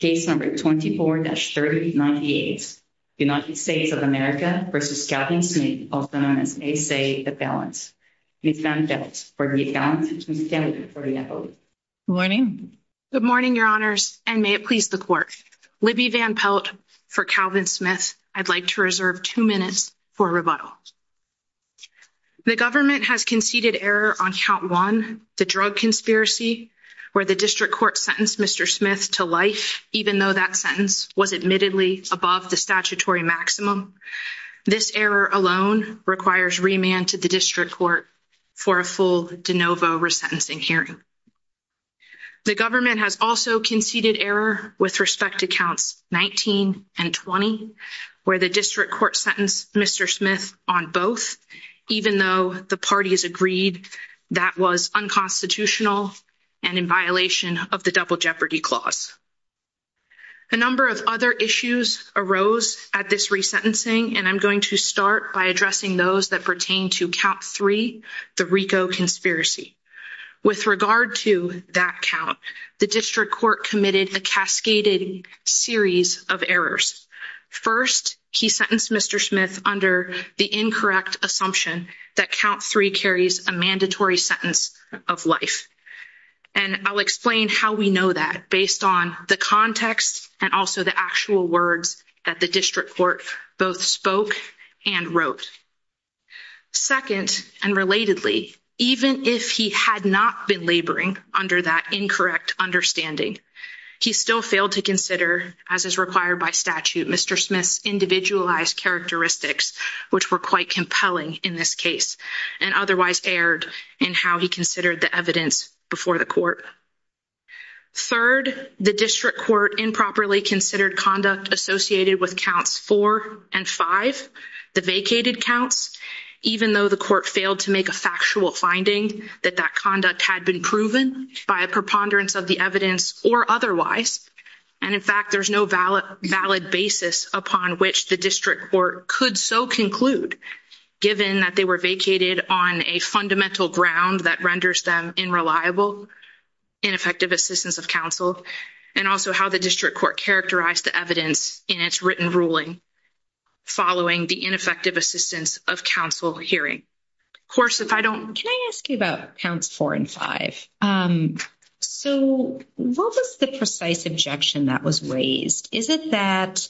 Case No. 24-3098, United States of America v. Calvin Smith, a.k.a. A.C.E.A. The Balance. Ms. Van Pelt, for Libby Van Pelt, Ms. Kelly, for your vote. Good morning. Good morning, Your Honors, and may it please the Court. Libby Van Pelt, for Calvin Smith. I'd like to reserve two minutes for rebuttal. The government has conceded error on Count 1, the drug conspiracy, where the District Court sentenced Mr. Smith to life, even though that sentence was admittedly above the statutory maximum. This error alone requires remand to the District Court for a full de novo resentencing hearing. The government has also conceded error with respect to Counts 19 and 20, where the District Court sentenced Mr. Smith on both, even though the parties agreed that was unconstitutional and in violation of the Double Jeopardy Clause. A number of other issues arose at this resentencing, and I'm going to start by addressing those that pertain to Count 3, the RICO conspiracy. With regard to that count, the District Court committed a cascaded series of errors. First, he sentenced Mr. Smith under the incorrect assumption that Count 3 carries a mandatory sentence of life, and I'll explain how we know that based on the context and also the actual words that the District Court both spoke and wrote. Second, and relatedly, even if he had not been laboring under that incorrect understanding, he still failed to consider, as is required by statute, Mr. Smith's individualized characteristics, which were quite compelling in this case and otherwise erred in how he considered the evidence before the Court. Third, the District Court improperly considered conduct associated with Counts 4 and 5, the vacated counts, even though the Court failed to make a factual finding that that conduct had been proven by a preponderance of the evidence or otherwise, and in fact, there's no valid basis upon which the District Court could so conclude, given that they were vacated on a fundamental ground that renders them unreliable, ineffective assistance of counsel, and also how the District Court characterized the evidence in its written ruling following the ineffective assistance of counsel hearing. Of course, if I don't... Can I ask you about Counts 4 and 5? So, what was the precise objection that was raised? Is it that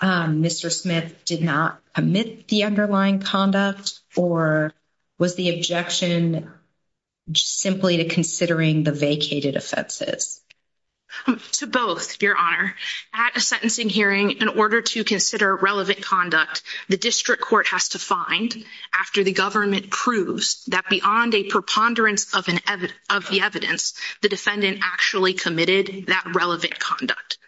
Mr. Smith did not omit the underlying conduct, or was the objection simply to considering the vacated offenses? To both, Your Honor. At a sentencing hearing, in order to consider relevant conduct, the District Court has to find, after the government proves, that beyond a preponderance of the evidence, the defendant actually committed that relevant conduct.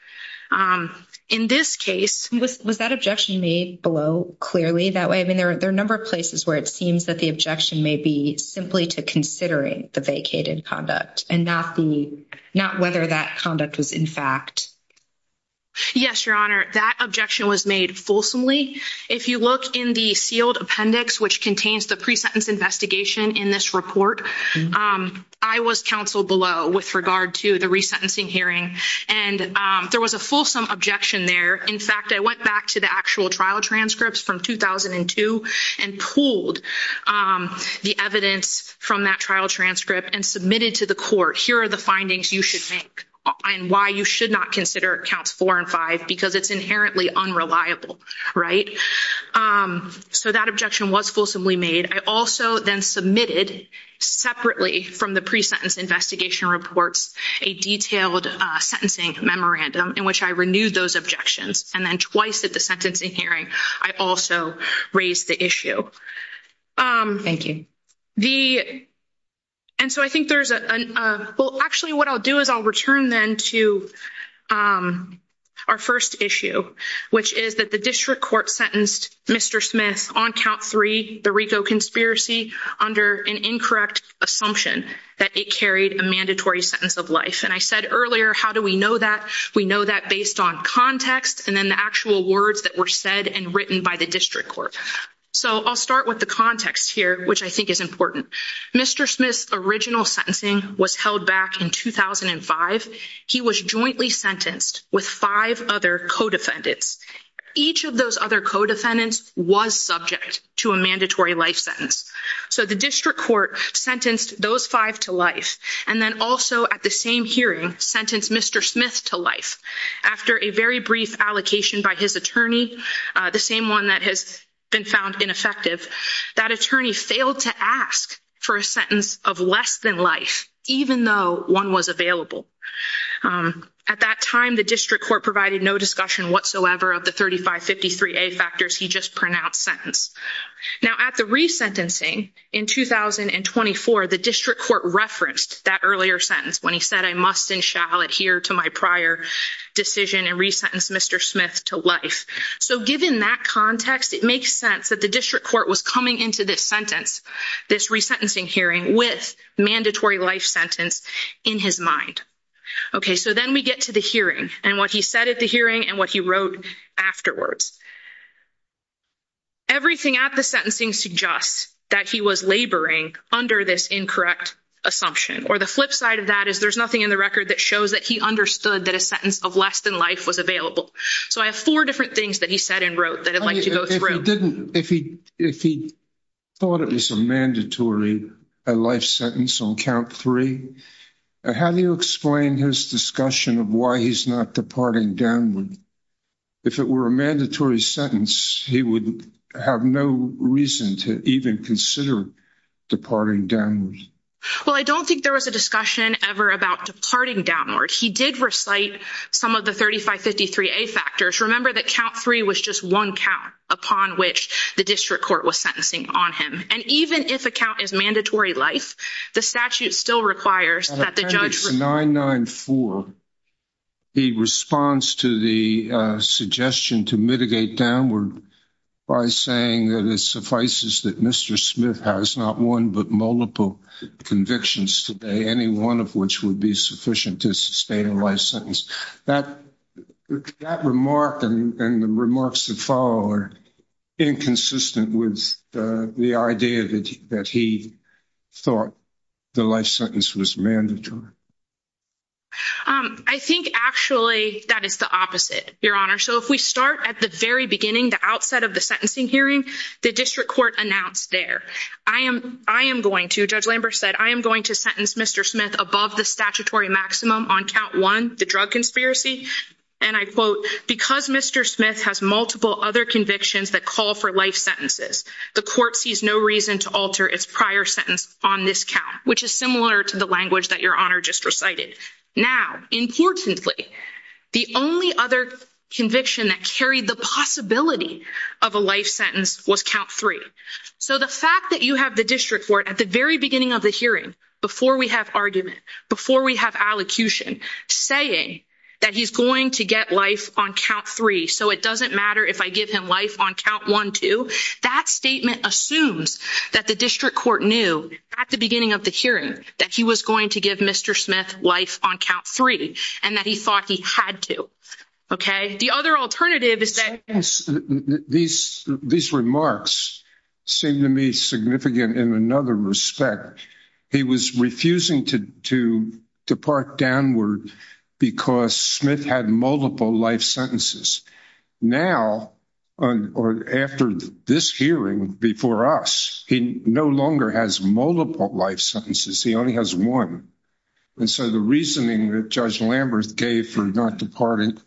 In this case... Was that objection made below clearly that way? I mean, there are a number of places where it seems that the objection may be simply to considering the vacated conduct and not whether that conduct was in fact... Yes, Your Honor. That objection was made fulsomely. If you look in the sealed appendix, which contains the pre-sentence investigation in this report, I was counsel below with regard to the resentencing hearing, and there was a fulsome objection there. In fact, I went back to the actual trial transcripts from 2002 and pulled the evidence from that trial transcript and submitted to the court, here are the findings you should make and why you should not consider Counts 4 and 5, because it's inherently unreliable, right? So that objection was fulsomely made. I also then submitted, separately from the pre-sentence investigation reports, a detailed sentencing memorandum in which I renewed those objections, and then twice at the sentencing hearing, I also raised the issue. Thank you. And so I think there's a... Actually, what I'll do is I'll return then to our first issue, which is that the district court sentenced Mr. Smith on Count 3, the RICO conspiracy, under an incorrect assumption that it carried a mandatory sentence of life. And I said earlier, how do we know that? We know that based on context, and then the actual words that were said and written by the district court. So I'll start with the context here, which I think is important. Mr. Smith's original sentencing was held back in 2005. He was jointly sentenced with five other co-defendants. Each of those other co-defendants was subject to a mandatory life sentence. So the district court sentenced those five to life, and then also at the same hearing, sentenced Mr. Smith to life. After a very brief allocation by his attorney, the same one that has been found ineffective, that attorney failed to ask for a sentence of less than life, even though one was available. At that time, the district court provided no discussion whatsoever of the 3553A factors he just pronounced sentence. Now, at the resentencing in 2024, the district court referenced that earlier sentence when he said, I must and shall adhere to my prior decision and resentence Mr. Smith to life. So given that context, it makes sense that the district court was coming into this sentence, this resentencing hearing with mandatory life sentence in his mind. Okay, so then we get to the hearing and what he said at the hearing and what he wrote afterwards. Everything at the sentencing suggests that he was laboring under this incorrect assumption, or the flip side of that is there's nothing in the record that shows that he understood that a sentence of less than life was available. So I have four different things that he said and wrote that I'd like to go through. If he thought it was a mandatory life sentence on count three, how do you explain his discussion of why he's not departing downward? If it were a mandatory sentence, he would have no reason to even consider departing downward. Well, I don't think there was a discussion ever about departing downward. He did recite some of the 3553A factors. Remember that count three was just one count upon which the district court was sentencing on him. And even if a count is mandatory life, the statute still requires that the judge- At appendix 994, he responds to the suggestion to mitigate downward by saying that it suffices that Mr. Smith has not one but multiple convictions today, any one of which would be sufficient to sustain a life sentence. That remark and the remarks that follow are inconsistent with the idea that he thought the life sentence was mandatory. I think actually that is the opposite, Your Honor. So if we start at the very beginning, the outset of the sentencing hearing, the district court announced there, I am going to, Judge Lambert said, I am going to sentence Mr. Smith above the statutory maximum on count one, the drug conspiracy. And I quote, because Mr. Smith has multiple other convictions that call for life sentences, the court sees no reason to alter its prior sentence on this count, which is similar to the language that Your Honor just recited. Now, importantly, the only other conviction that carried the possibility of a life sentence was count three. So the fact that you have the district court at the very beginning of the hearing, before we have argument, before we have allocution, saying that he's going to get life on count three, so it doesn't matter if I give him life on count one, two, that statement assumes that the district court knew at the beginning of the hearing that he was going to give Mr. Smith life on count three and that he thought he had to, okay? These remarks seem to me significant in another respect. He was refusing to depart downward because Smith had multiple life sentences. Now, or after this hearing before us, he no longer has multiple life sentences. He only has one. And so the reasoning that Judge Lambert gave for not departing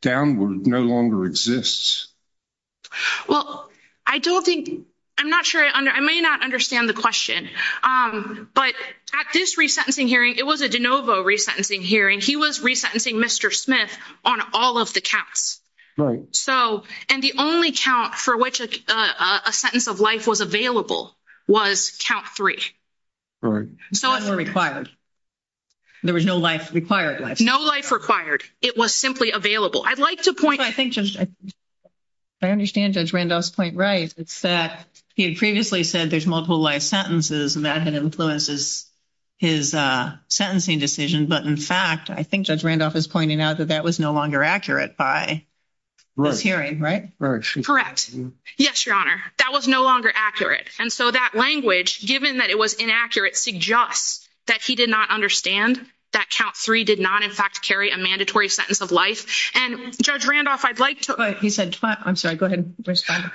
downward no longer exists. Well, I don't think, I'm not sure, I may not understand the question, but at this resentencing hearing, it was a de novo resentencing hearing. He was resentencing Mr. Smith on all of the counts. Right. So, and the only count for which a sentence of life was available was count three. Right. So it was required. There was no life required. No life required. It was simply available. I'd like to point- I think Judge, I understand Judge Randolph's point, right? It's that he had previously said there's multiple life sentences and that had influences his sentencing decision. But in fact, I think Judge Randolph is pointing out that that was no longer accurate by this hearing, right? Yes, Your Honor. That was no longer accurate. And so that language, given that it was inaccurate, suggests that he did not understand that count three did not, in fact, carry a mandatory sentence of life. And Judge Randolph, I'd like to- He said- I'm sorry, go ahead and respond.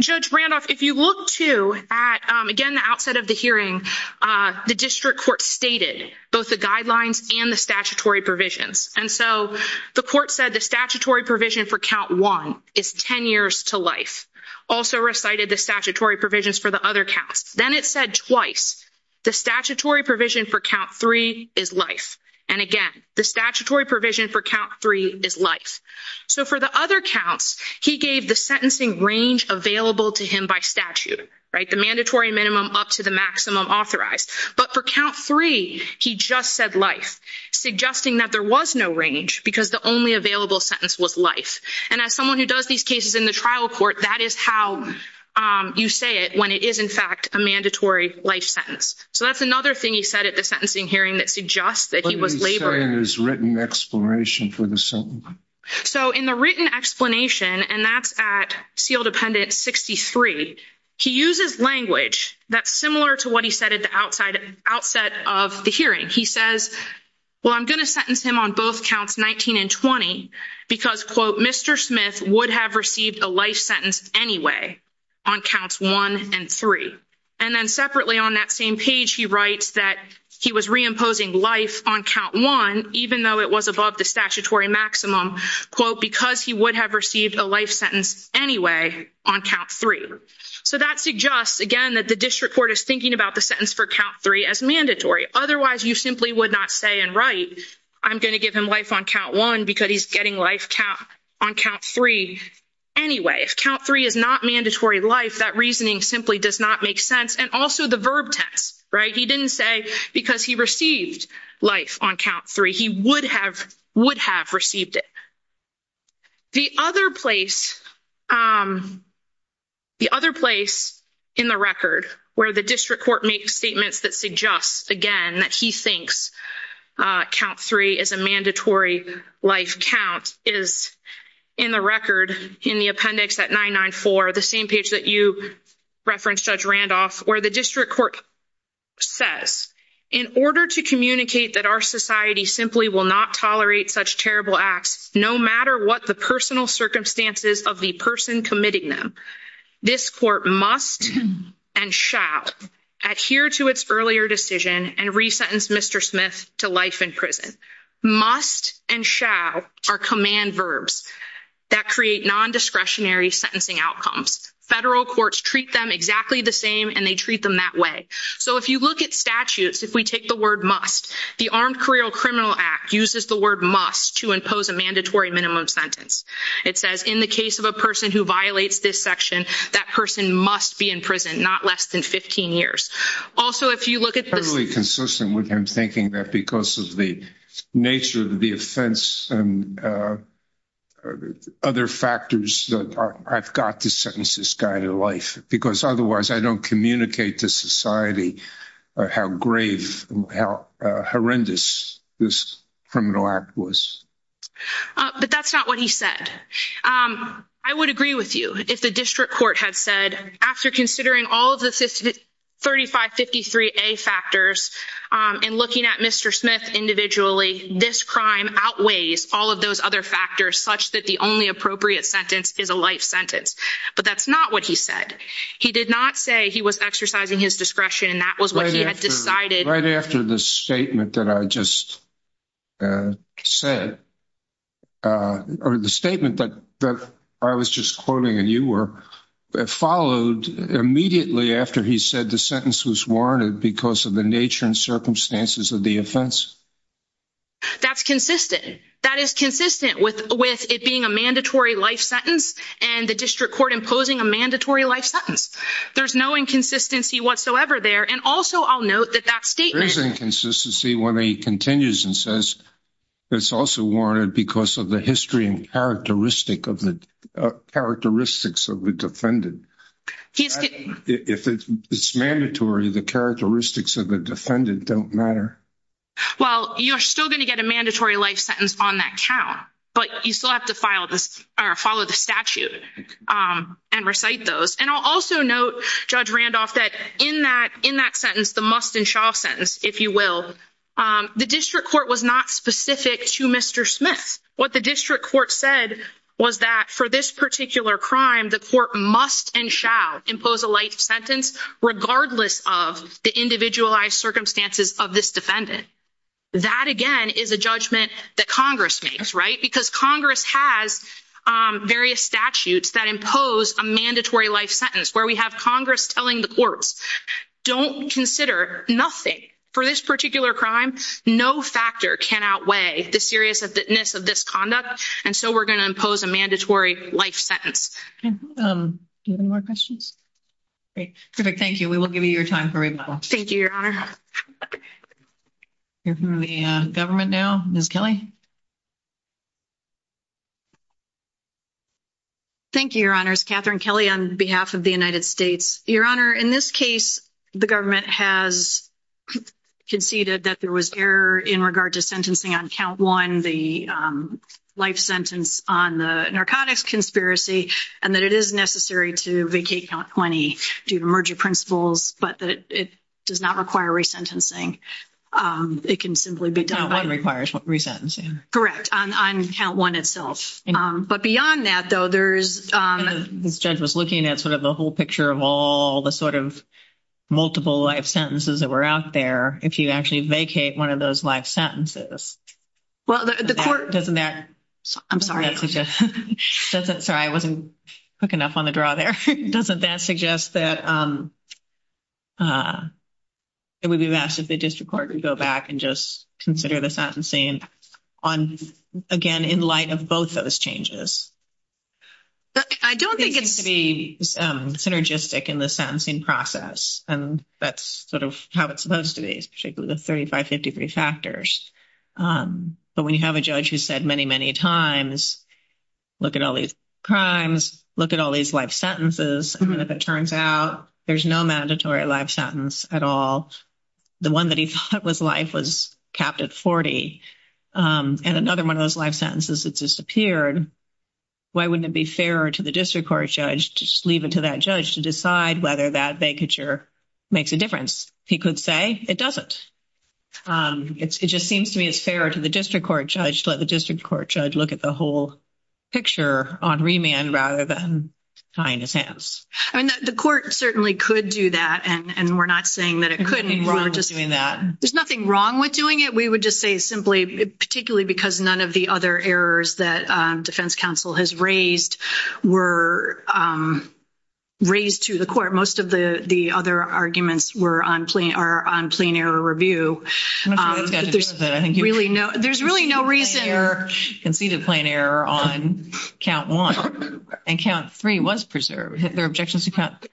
Judge Randolph, if you look too at, again, the outset of the hearing, the district court stated both the guidelines and the statutory provisions. And so the court said the statutory provision for count one is 10 years to life. Also recited the statutory provisions for the other counts. Then it said twice, the statutory provision for count three is life. And again, the statutory provision for count three is life. So for the other counts, he gave the sentencing range available to him by statute, right? The mandatory minimum up to the maximum authorized. But for count three, he just said life, suggesting that there was no range because the only available sentence was life. And as someone who does these cases in the trial court, that is how you say it when it is, in fact, a mandatory life sentence. So that's another thing he said at the sentencing hearing that suggests that he was laboring. What did he say in his written explanation for the sentence? So in the written explanation, and that's at seal dependent 63, he uses language that's similar to what he said at the outset of the hearing. He says, well, I'm going to sentence him on both counts 19 and 20 because, quote, Mr. Smith would have received a life sentence anyway on counts one and three. And then separately on that same page, he writes that he was reimposing life on count one, even though it was above the statutory maximum, quote, because he would have received a life sentence anyway on count three. So that suggests, again, that the district court is thinking about the sentence for count three as mandatory. Otherwise, you simply would not say and write, I'm going to give him life on count one because he's getting life count on count three anyway. If count three is not mandatory life, that reasoning simply does not make sense. And also the verb tense, right? He didn't say because he received life on count three, he would have received it. The other place in the record where the district court makes statements that suggests, again, that he thinks count three is a mandatory life count is in the record in the appendix at 994, the same page that you referenced Judge Randolph, where the district court says, in order to communicate that our society simply will not tolerate such terrible acts, no matter what the personal circumstances of the person committing them, this court must and shall adhere to its earlier decision and re-sentence Mr. Smith to life in prison. Must and shall are command verbs that create non-discretionary sentencing outcomes. Federal courts treat them exactly the same and they treat them that way. So if you look at statutes, if we take the word must, the Armed Career Criminal Act uses the word must to impose a mandatory minimum sentence. It says in the case of a person who violates this section, that person must be in prison, not less than 15 years. Also, if you look at- with him thinking that because of the nature of the offense and other factors, I've got to sentence this guy to life, because otherwise I don't communicate to society how grave, how horrendous this criminal act was. But that's not what he said. I would agree with you if the district court had said, after considering all of the 3553A factors and looking at Mr. Smith individually, this crime outweighs all of those other factors such that the only appropriate sentence is a life sentence. But that's not what he said. He did not say he was exercising his discretion and that was what he had decided. Right after the statement that I just said, or the statement that I was just quoting and you were, followed immediately after he said the sentence was warranted because of the nature and circumstances of the offense. That's consistent. That is consistent with it being a mandatory life sentence and the district court imposing a mandatory life sentence. There's no inconsistency whatsoever there. And also I'll note that that statement- There is inconsistency when he continues and says that it's also warranted because of the history and characteristics of the defendant. If it's mandatory, the characteristics of the defendant don't matter. Well, you're still going to get a mandatory life sentence on that count, but you still have to follow the statute and recite those. And I'll also note, Judge Randolph, that in that sentence, the must-and-shall sentence, if you will, the district court was not specific to Mr. Smith. What the district court said was that for this particular crime, the court must-and-shall impose a life sentence regardless of the individualized circumstances of this defendant. That, again, is a judgment that Congress makes, right? Because Congress has various statutes that impose a mandatory life sentence where we have Congress telling the courts, don't consider nothing for this particular crime. No factor can outweigh the seriousness of this conduct, and so we're going to impose a mandatory life sentence. Do you have any more questions? Great. Perfect. Thank you. We will give you your time for rebuttal. Thank you, Your Honor. Hearing from the government now. Ms. Kelly? Thank you, Your Honors. Catherine Kelly on behalf of the United States. Your Honor, in this case, the government has conceded that there was error in regard to sentencing on count one, the life sentence on the narcotics conspiracy, and that it is necessary to vacate count 20 due to merger principles, but that it does not require re-sentencing. It can simply be done- Count one requires re-sentencing. Correct, on count one itself. But beyond that, though, there's- This judge was looking at sort of the whole picture of all the sort of multiple life sentences that were out there. If you actually vacate one of those life sentences- Well, the court- Doesn't that- I'm sorry. Sorry, I wasn't quick enough on the draw there. Doesn't that suggest that it would be best if the district court would go back and just consider the sentencing on, again, in light of both of those changes? I don't think it's- It seems to be synergistic in the sentencing process, and that's sort of how it's supposed to be, particularly the 3553 factors. But when you have a judge who said many, many times, look at all these crimes, look at all these life sentences, and if it turns out there's no mandatory life sentence at all, the one that he thought was life was capped at 40, and another one of those life sentences had disappeared, why wouldn't it be fairer to the district court judge to just leave it to that judge to decide whether that vacature makes a difference? He could say it doesn't. It just seems to me it's fairer to the district court judge to let the district court judge look at the whole picture on remand rather than tying his hands. I mean, the court certainly could do that, and we're not saying that it couldn't. There's nothing wrong with doing that. There's nothing wrong with doing it. We would just say simply, particularly because none of the other errors that defense counsel has raised were raised to the court. Most of the other arguments were on plain error review. I'm not sure that's got to do with it. There's really no reason... Conceded plain error on count one, and count three was preserved. There are objections to count...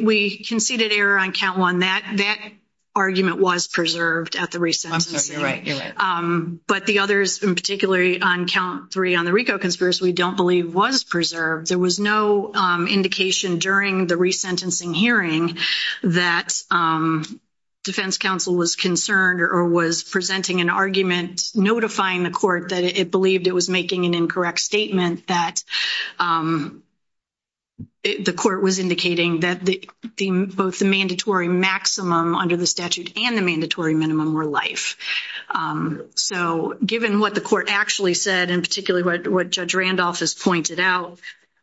We conceded error on count one. That argument was preserved at the re-sentencing. I'm sorry, you're right. But the others, in particular, on count three on the RICO conspiracy, we don't believe was preserved. There was no indication during the re-sentencing hearing that defense counsel was concerned or was presenting an argument notifying the court that it believed it was making an incorrect statement that the court was indicating that both the mandatory maximum under the statute and the mandatory minimum were life. So given what the court actually said, and particularly what Judge Randolph has pointed out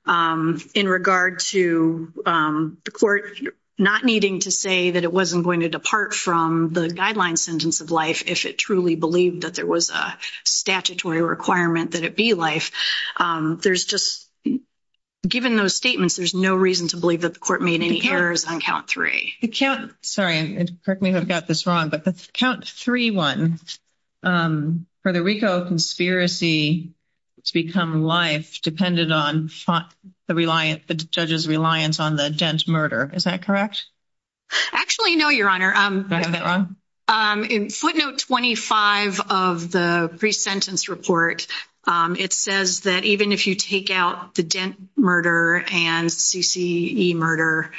in regard to the court not needing to say that it wasn't going to depart from the guideline sentence of life if it truly believed that there was a statutory requirement that it be life, there's just, given those statements, there's no reason to believe that the court made any errors on count three. The count, sorry, and correct me if I've got this wrong, but the count three one, for the RICO conspiracy to become life depended on the judge's reliance on the dent murder. Is that correct? Actually, no, Your Honor. Did I have that wrong? In footnote 25 of the pre-sentence report, it says that even if you take out the dent murder and CCE murder,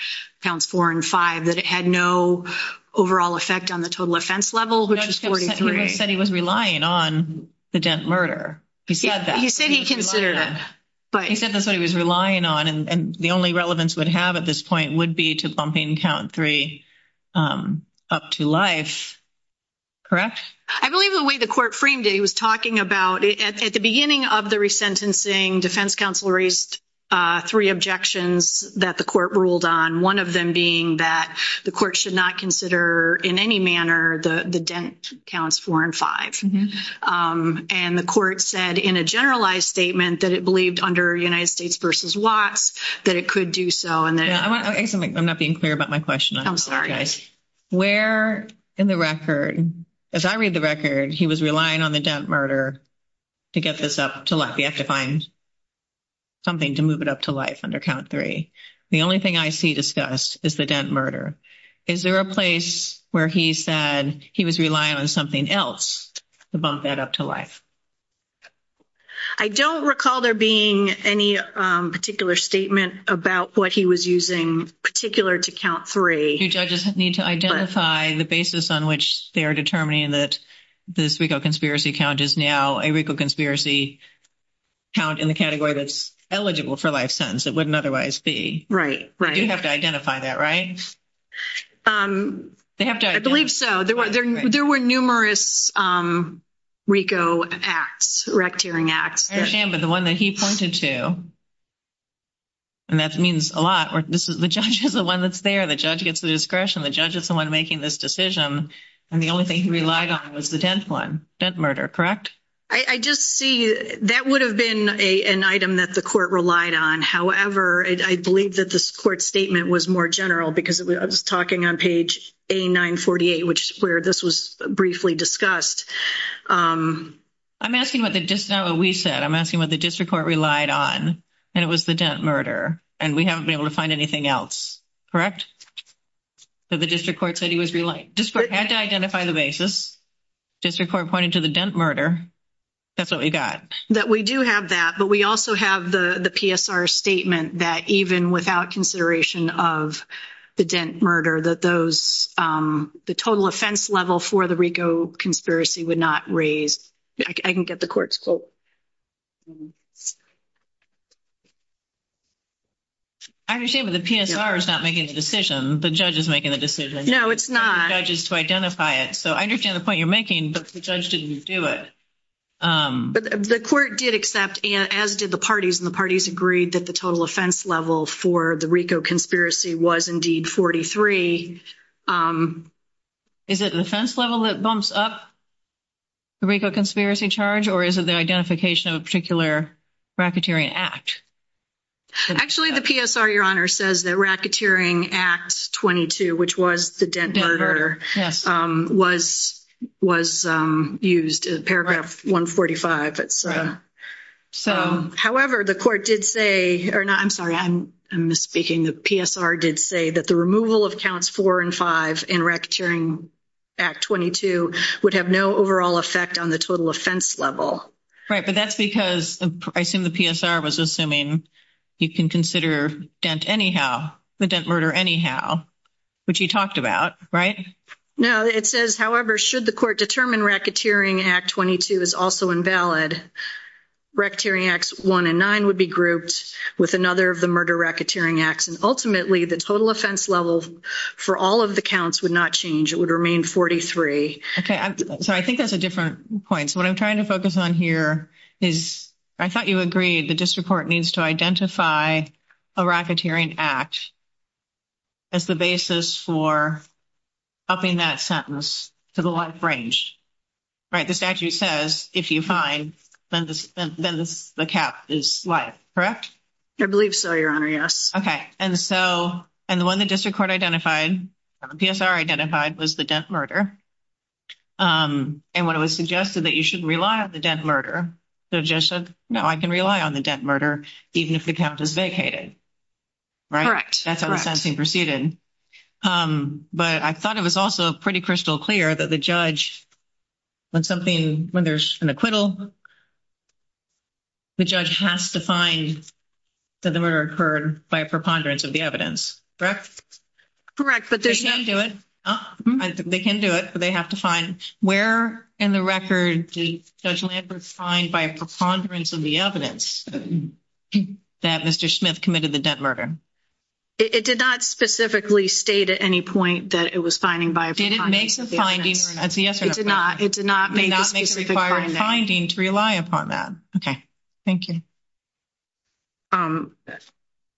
counts four and five, that it had no overall effect on the total offense level, which is 43. He said he was relying on the dent murder. He said that. He said he considered it, but- He said that's what he was relying on, and the only relevance would have at this point would be to bumping count three up to life, correct? I believe the way the court framed it, he was talking about, at the beginning of the resentencing, defense counsel raised three objections that the court ruled on, one of them being that the court should not consider in any manner the dent counts four and five. And the court said in a generalized statement that it believed under United States versus Watts that it could do so, and then- I want to ask something. I'm not being clear about my question. I'm sorry. Where in the record, as I read the record, he was relying on the dent murder to get this up to life. You have to find something to move it up to life under count three. The only thing I see discussed is the dent murder. Is there a place where he said he was relying on something else to bump that up to life? I don't recall there being any particular statement about what he was using particular to count three. Do judges need to identify the basis on which they are determining that this recall conspiracy count is now a recall conspiracy count in the category that's eligible for life sentence? It wouldn't otherwise be. Right, right. You have to identify that, right? They have to- I believe so. There were numerous RICO acts, rectearing acts. I understand, but the one that he pointed to, and that means a lot, this is the judge is the one that's there. The judge gets the discretion. The judge is the one making this decision. And the only thing he relied on was the dent one, dent murder, correct? I just see that would have been an item that the court relied on. However, I believe that this court statement was more general because I was talking on page A948, which is where this was briefly discussed. I'm asking what the, just now what we said, I'm asking what the district court relied on, and it was the dent murder, and we haven't been able to find anything else, correct? But the district court said he was reliant. District court had to identify the basis. District court pointed to the dent murder. That's what we got. That we do have that, but we also have the PSR statement that even without consideration of the dent murder, that those, the total offense level for the RICO conspiracy would not raise. I can get the court's quote. I understand, but the PSR is not making the decision. The judge is making the decision. No, it's not. The judge is to identify it. So I understand the point you're making, but the judge didn't do it. But the court did accept, as did the parties, and the parties agreed that the total offense level for the RICO conspiracy was indeed 43. Is it an offense level that bumps up the RICO conspiracy charge, or is it the identification of a particular racketeering act? Actually, the PSR, Your Honor, says that racketeering act 22, which was the dent murder, was used in paragraph 145. However, the court did say, or no, I'm sorry, I'm misspeaking. The PSR did say that the removal of counts four and five in racketeering act 22 would have no overall effect on the total offense level. Right, but that's because, I assume the PSR was assuming you can consider dent anyhow, the dent murder anyhow, which you talked about, right? No, it says, however, should the court determine racketeering act 22 is also invalid, racketeering acts one and nine would be grouped with another of the murder racketeering acts, and ultimately the total offense level for all of the counts would not change. It would remain 43. Okay, so I think that's a different point. So what I'm trying to focus on here is I thought you agreed the district court needs to identify a racketeering act as the basis for upping that sentence to the life range, right? The statute says, if you find, then the cap is life, correct? I believe so, your honor, yes. Okay, and so, and the one that district court identified, PSR identified was the dent murder. And when it was suggested that you shouldn't rely on the dent murder, the judge said, no, I can rely on the dent murder even if the count is vacated, right? Correct. That's how the sentencing proceeded. But I thought it was also pretty crystal clear that the judge, when something, when there's an acquittal, the judge has to find that the murder occurred by a preponderance of the evidence, correct? Correct, but they can't do it. They can do it, but they have to find where in the record did Judge Lambert find by a preponderance of the evidence that Mr. Smith committed the dent murder? It did not specifically state at any point that it was finding by a preponderance of the evidence. Did it make a finding or not? Yes or no? It did not. It did not make a specific finding. It did not make a required finding to rely upon that. Okay, thank you.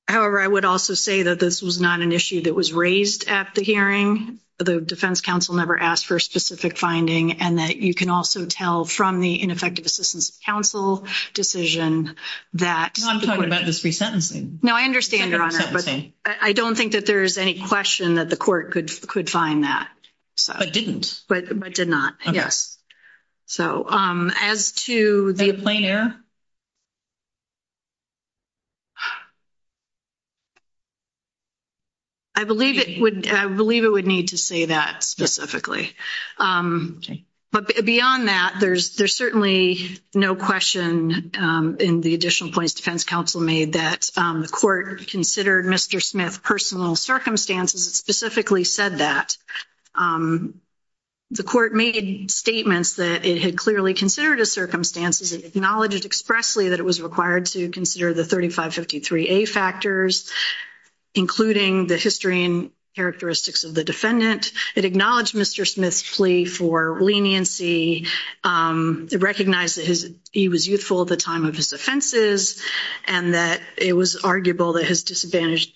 However, I would also say that this was not an issue that was raised at the hearing. The defense counsel never asked for a specific finding and that you can also tell from the ineffective assistance of counsel decision that... No, I'm talking about this resentencing. No, I understand, Your Honor, but I don't think that there's any question that the court could find that. But didn't? But did not, yes. So as to the... Is that a plain error? I believe it would need to say that specifically. But beyond that, there's certainly no question in the additional points defense counsel made that the court considered Mr. Smith's personal circumstances specifically said that. The court made statements that it had clearly considered his circumstances and acknowledged expressly that it was required to consider the 3553A factors, including the history and characteristics of the defendant. It acknowledged Mr. Smith's plea for leniency. It recognized that he was youthful at the time of his offenses and that it was arguable that his disadvantaged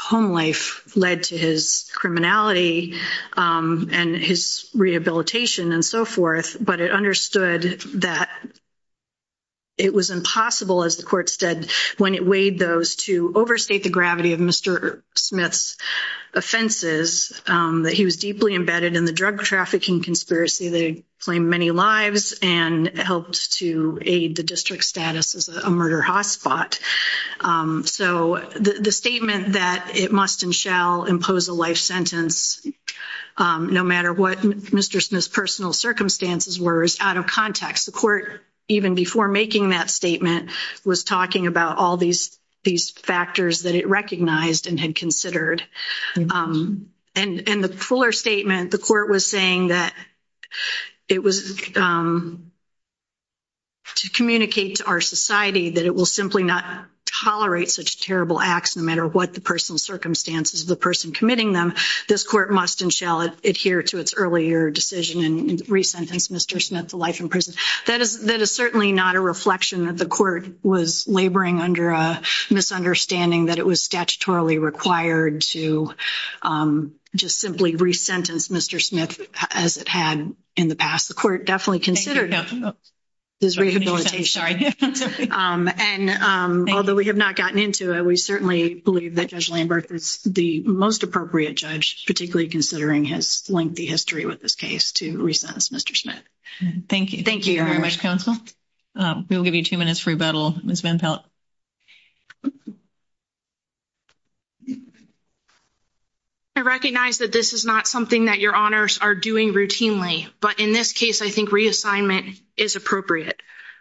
home life led to his criminality and his rehabilitation and so forth. But it understood that it was impossible, as the court said, when it weighed those to overstate the gravity of Mr. Smith's offenses, that he was deeply embedded in the drug trafficking conspiracy that claimed many lives and helped to aid the district status as a murder hotspot. So the statement that it must and shall impose a life sentence, no matter what Mr. Smith's personal circumstances were, is out of context. The court, even before making that statement, was talking about all these factors that it recognized and had considered. And the fuller statement, the court was saying that it was to communicate to our society that it will simply not tolerate such terrible acts, no matter what the personal circumstances of the person committing them, this court must and shall adhere to its earlier decision and re-sentence Mr. Smith to life in prison. That is certainly not a reflection that the court was laboring under a misunderstanding that it was statutorily required to just simply re-sentence Mr. Smith as it had in the past. The court definitely considered this rehabilitation. And although we have not gotten into it, we certainly believe that Judge Lambert is the most appropriate judge, particularly considering his lengthy history with this case to re-sentence Mr. Smith. Thank you. Thank you very much, counsel. We will give you two minutes for rebuttal. I recognize that this is not something that your honors are doing routinely, but in this case, I think reassignment is appropriate.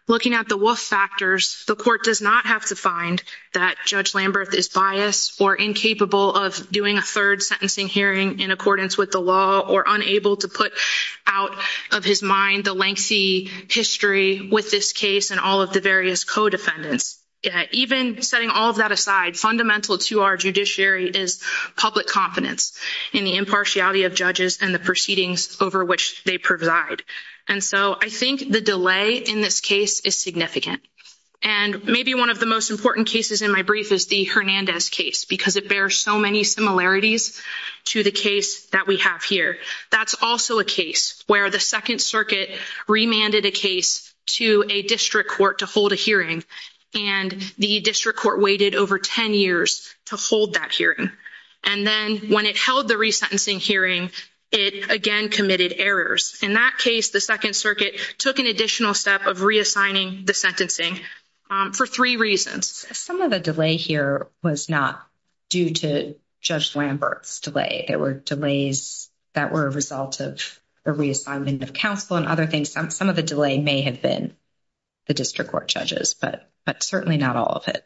Looking at the Wolf factors, the court does not have to find that Judge Lambert is biased or incapable of doing a third sentencing hearing in accordance with the law or unable to put out of his mind the lengthy history with this case and all of the various co-defendants. Even setting all of that aside, fundamental to our judiciary is public confidence in the impartiality of judges and the proceedings over which they preside. And so I think the delay in this case is significant. And maybe one of the most important cases in my brief is the Hernandez case, because it bears so many similarities to the case that we have here. That's also a case where the Second Circuit remanded a case to a district court to hold a hearing. And the district court waited over 10 years to hold that hearing. And then when it held the resentencing hearing, it again committed errors. In that case, the Second Circuit took an additional step of reassigning the sentencing for three reasons. Some of the delay here was not due to Judge Lambert's delay. There were delays that were a result of the reassignment of counsel and other things. Some of the delay may have been the district court judges, but certainly not all of it,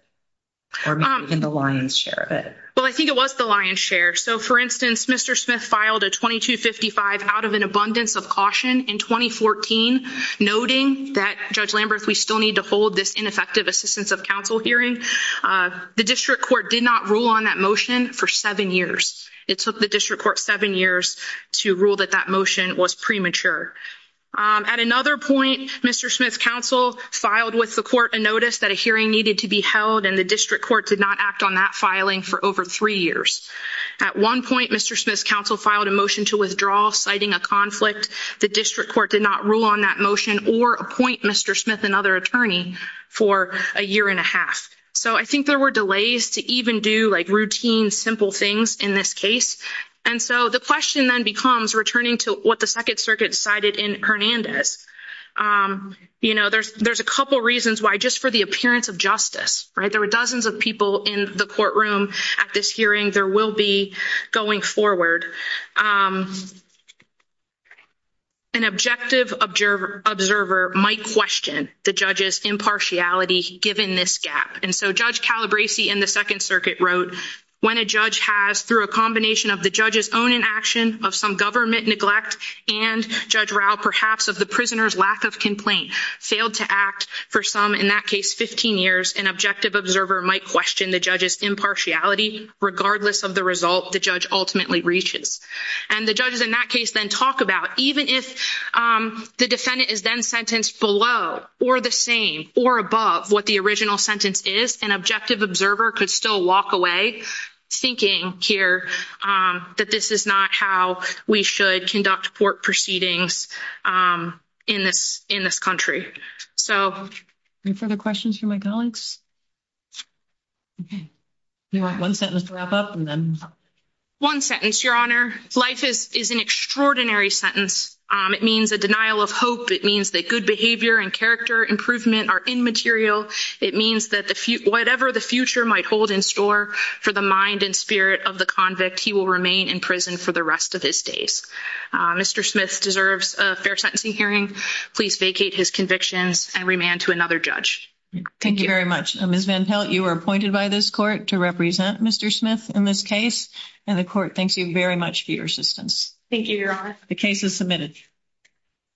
or maybe even the lion's share of it. Well, I think it was the lion's share. So, for instance, Mr. Smith filed a 2255 out of an abundance of caution in 2014, noting that, Judge Lambert, we still need to hold this ineffective assistance of counsel hearing. The district court did not rule on that motion for seven years. It took the district court seven years to rule that that motion was premature. At another point, Mr. Smith's counsel filed with the court a notice that a hearing needed to be held, and the district court did not act on that filing for over three years. At one point, Mr. Smith's counsel filed a motion to withdraw, citing a conflict. The district court did not rule on that motion or appoint Mr. Smith another attorney for a year and a half. So I think there were delays to even do like routine, simple things in this case. And so the question then becomes returning to what the Second Circuit cited in Hernandez. You know, there's a couple reasons why just for the appearance of justice, right, there were dozens of people in the courtroom at this hearing. There will be going forward. An objective observer might question the judge's impartiality given this gap. And so Judge Calabresi in the Second Circuit wrote, when a judge has, through a combination of the judge's own inaction of some government neglect and Judge Rao, perhaps of the prisoner's lack of complaint, failed to act for some, in that case, 15 years, an objective observer might question the judge's impartiality regardless of the result the judge ultimately reaches. And the judges in that case then talk about, even if the defendant is then sentenced below or the same or above what the original sentence is, an objective observer could still walk away thinking here that this is not how we should conduct court proceedings in this country. So any further questions for my colleagues? Okay. You want one sentence to wrap up and then... One sentence, Your Honor. Life is an extraordinary sentence. It means a denial of hope. It means that good behavior and character improvement are immaterial. It means that whatever the future might hold in store for the mind and spirit of the convict, he will remain in prison for the rest of his days. Mr. Smith deserves a fair sentencing hearing. Please vacate his convictions and remand to another judge. Thank you very much. Ms. Van Pelt, you are appointed by this court to represent Mr. Smith in this case. And the court thanks you very much for your assistance. Thank you, Your Honor. The case is submitted.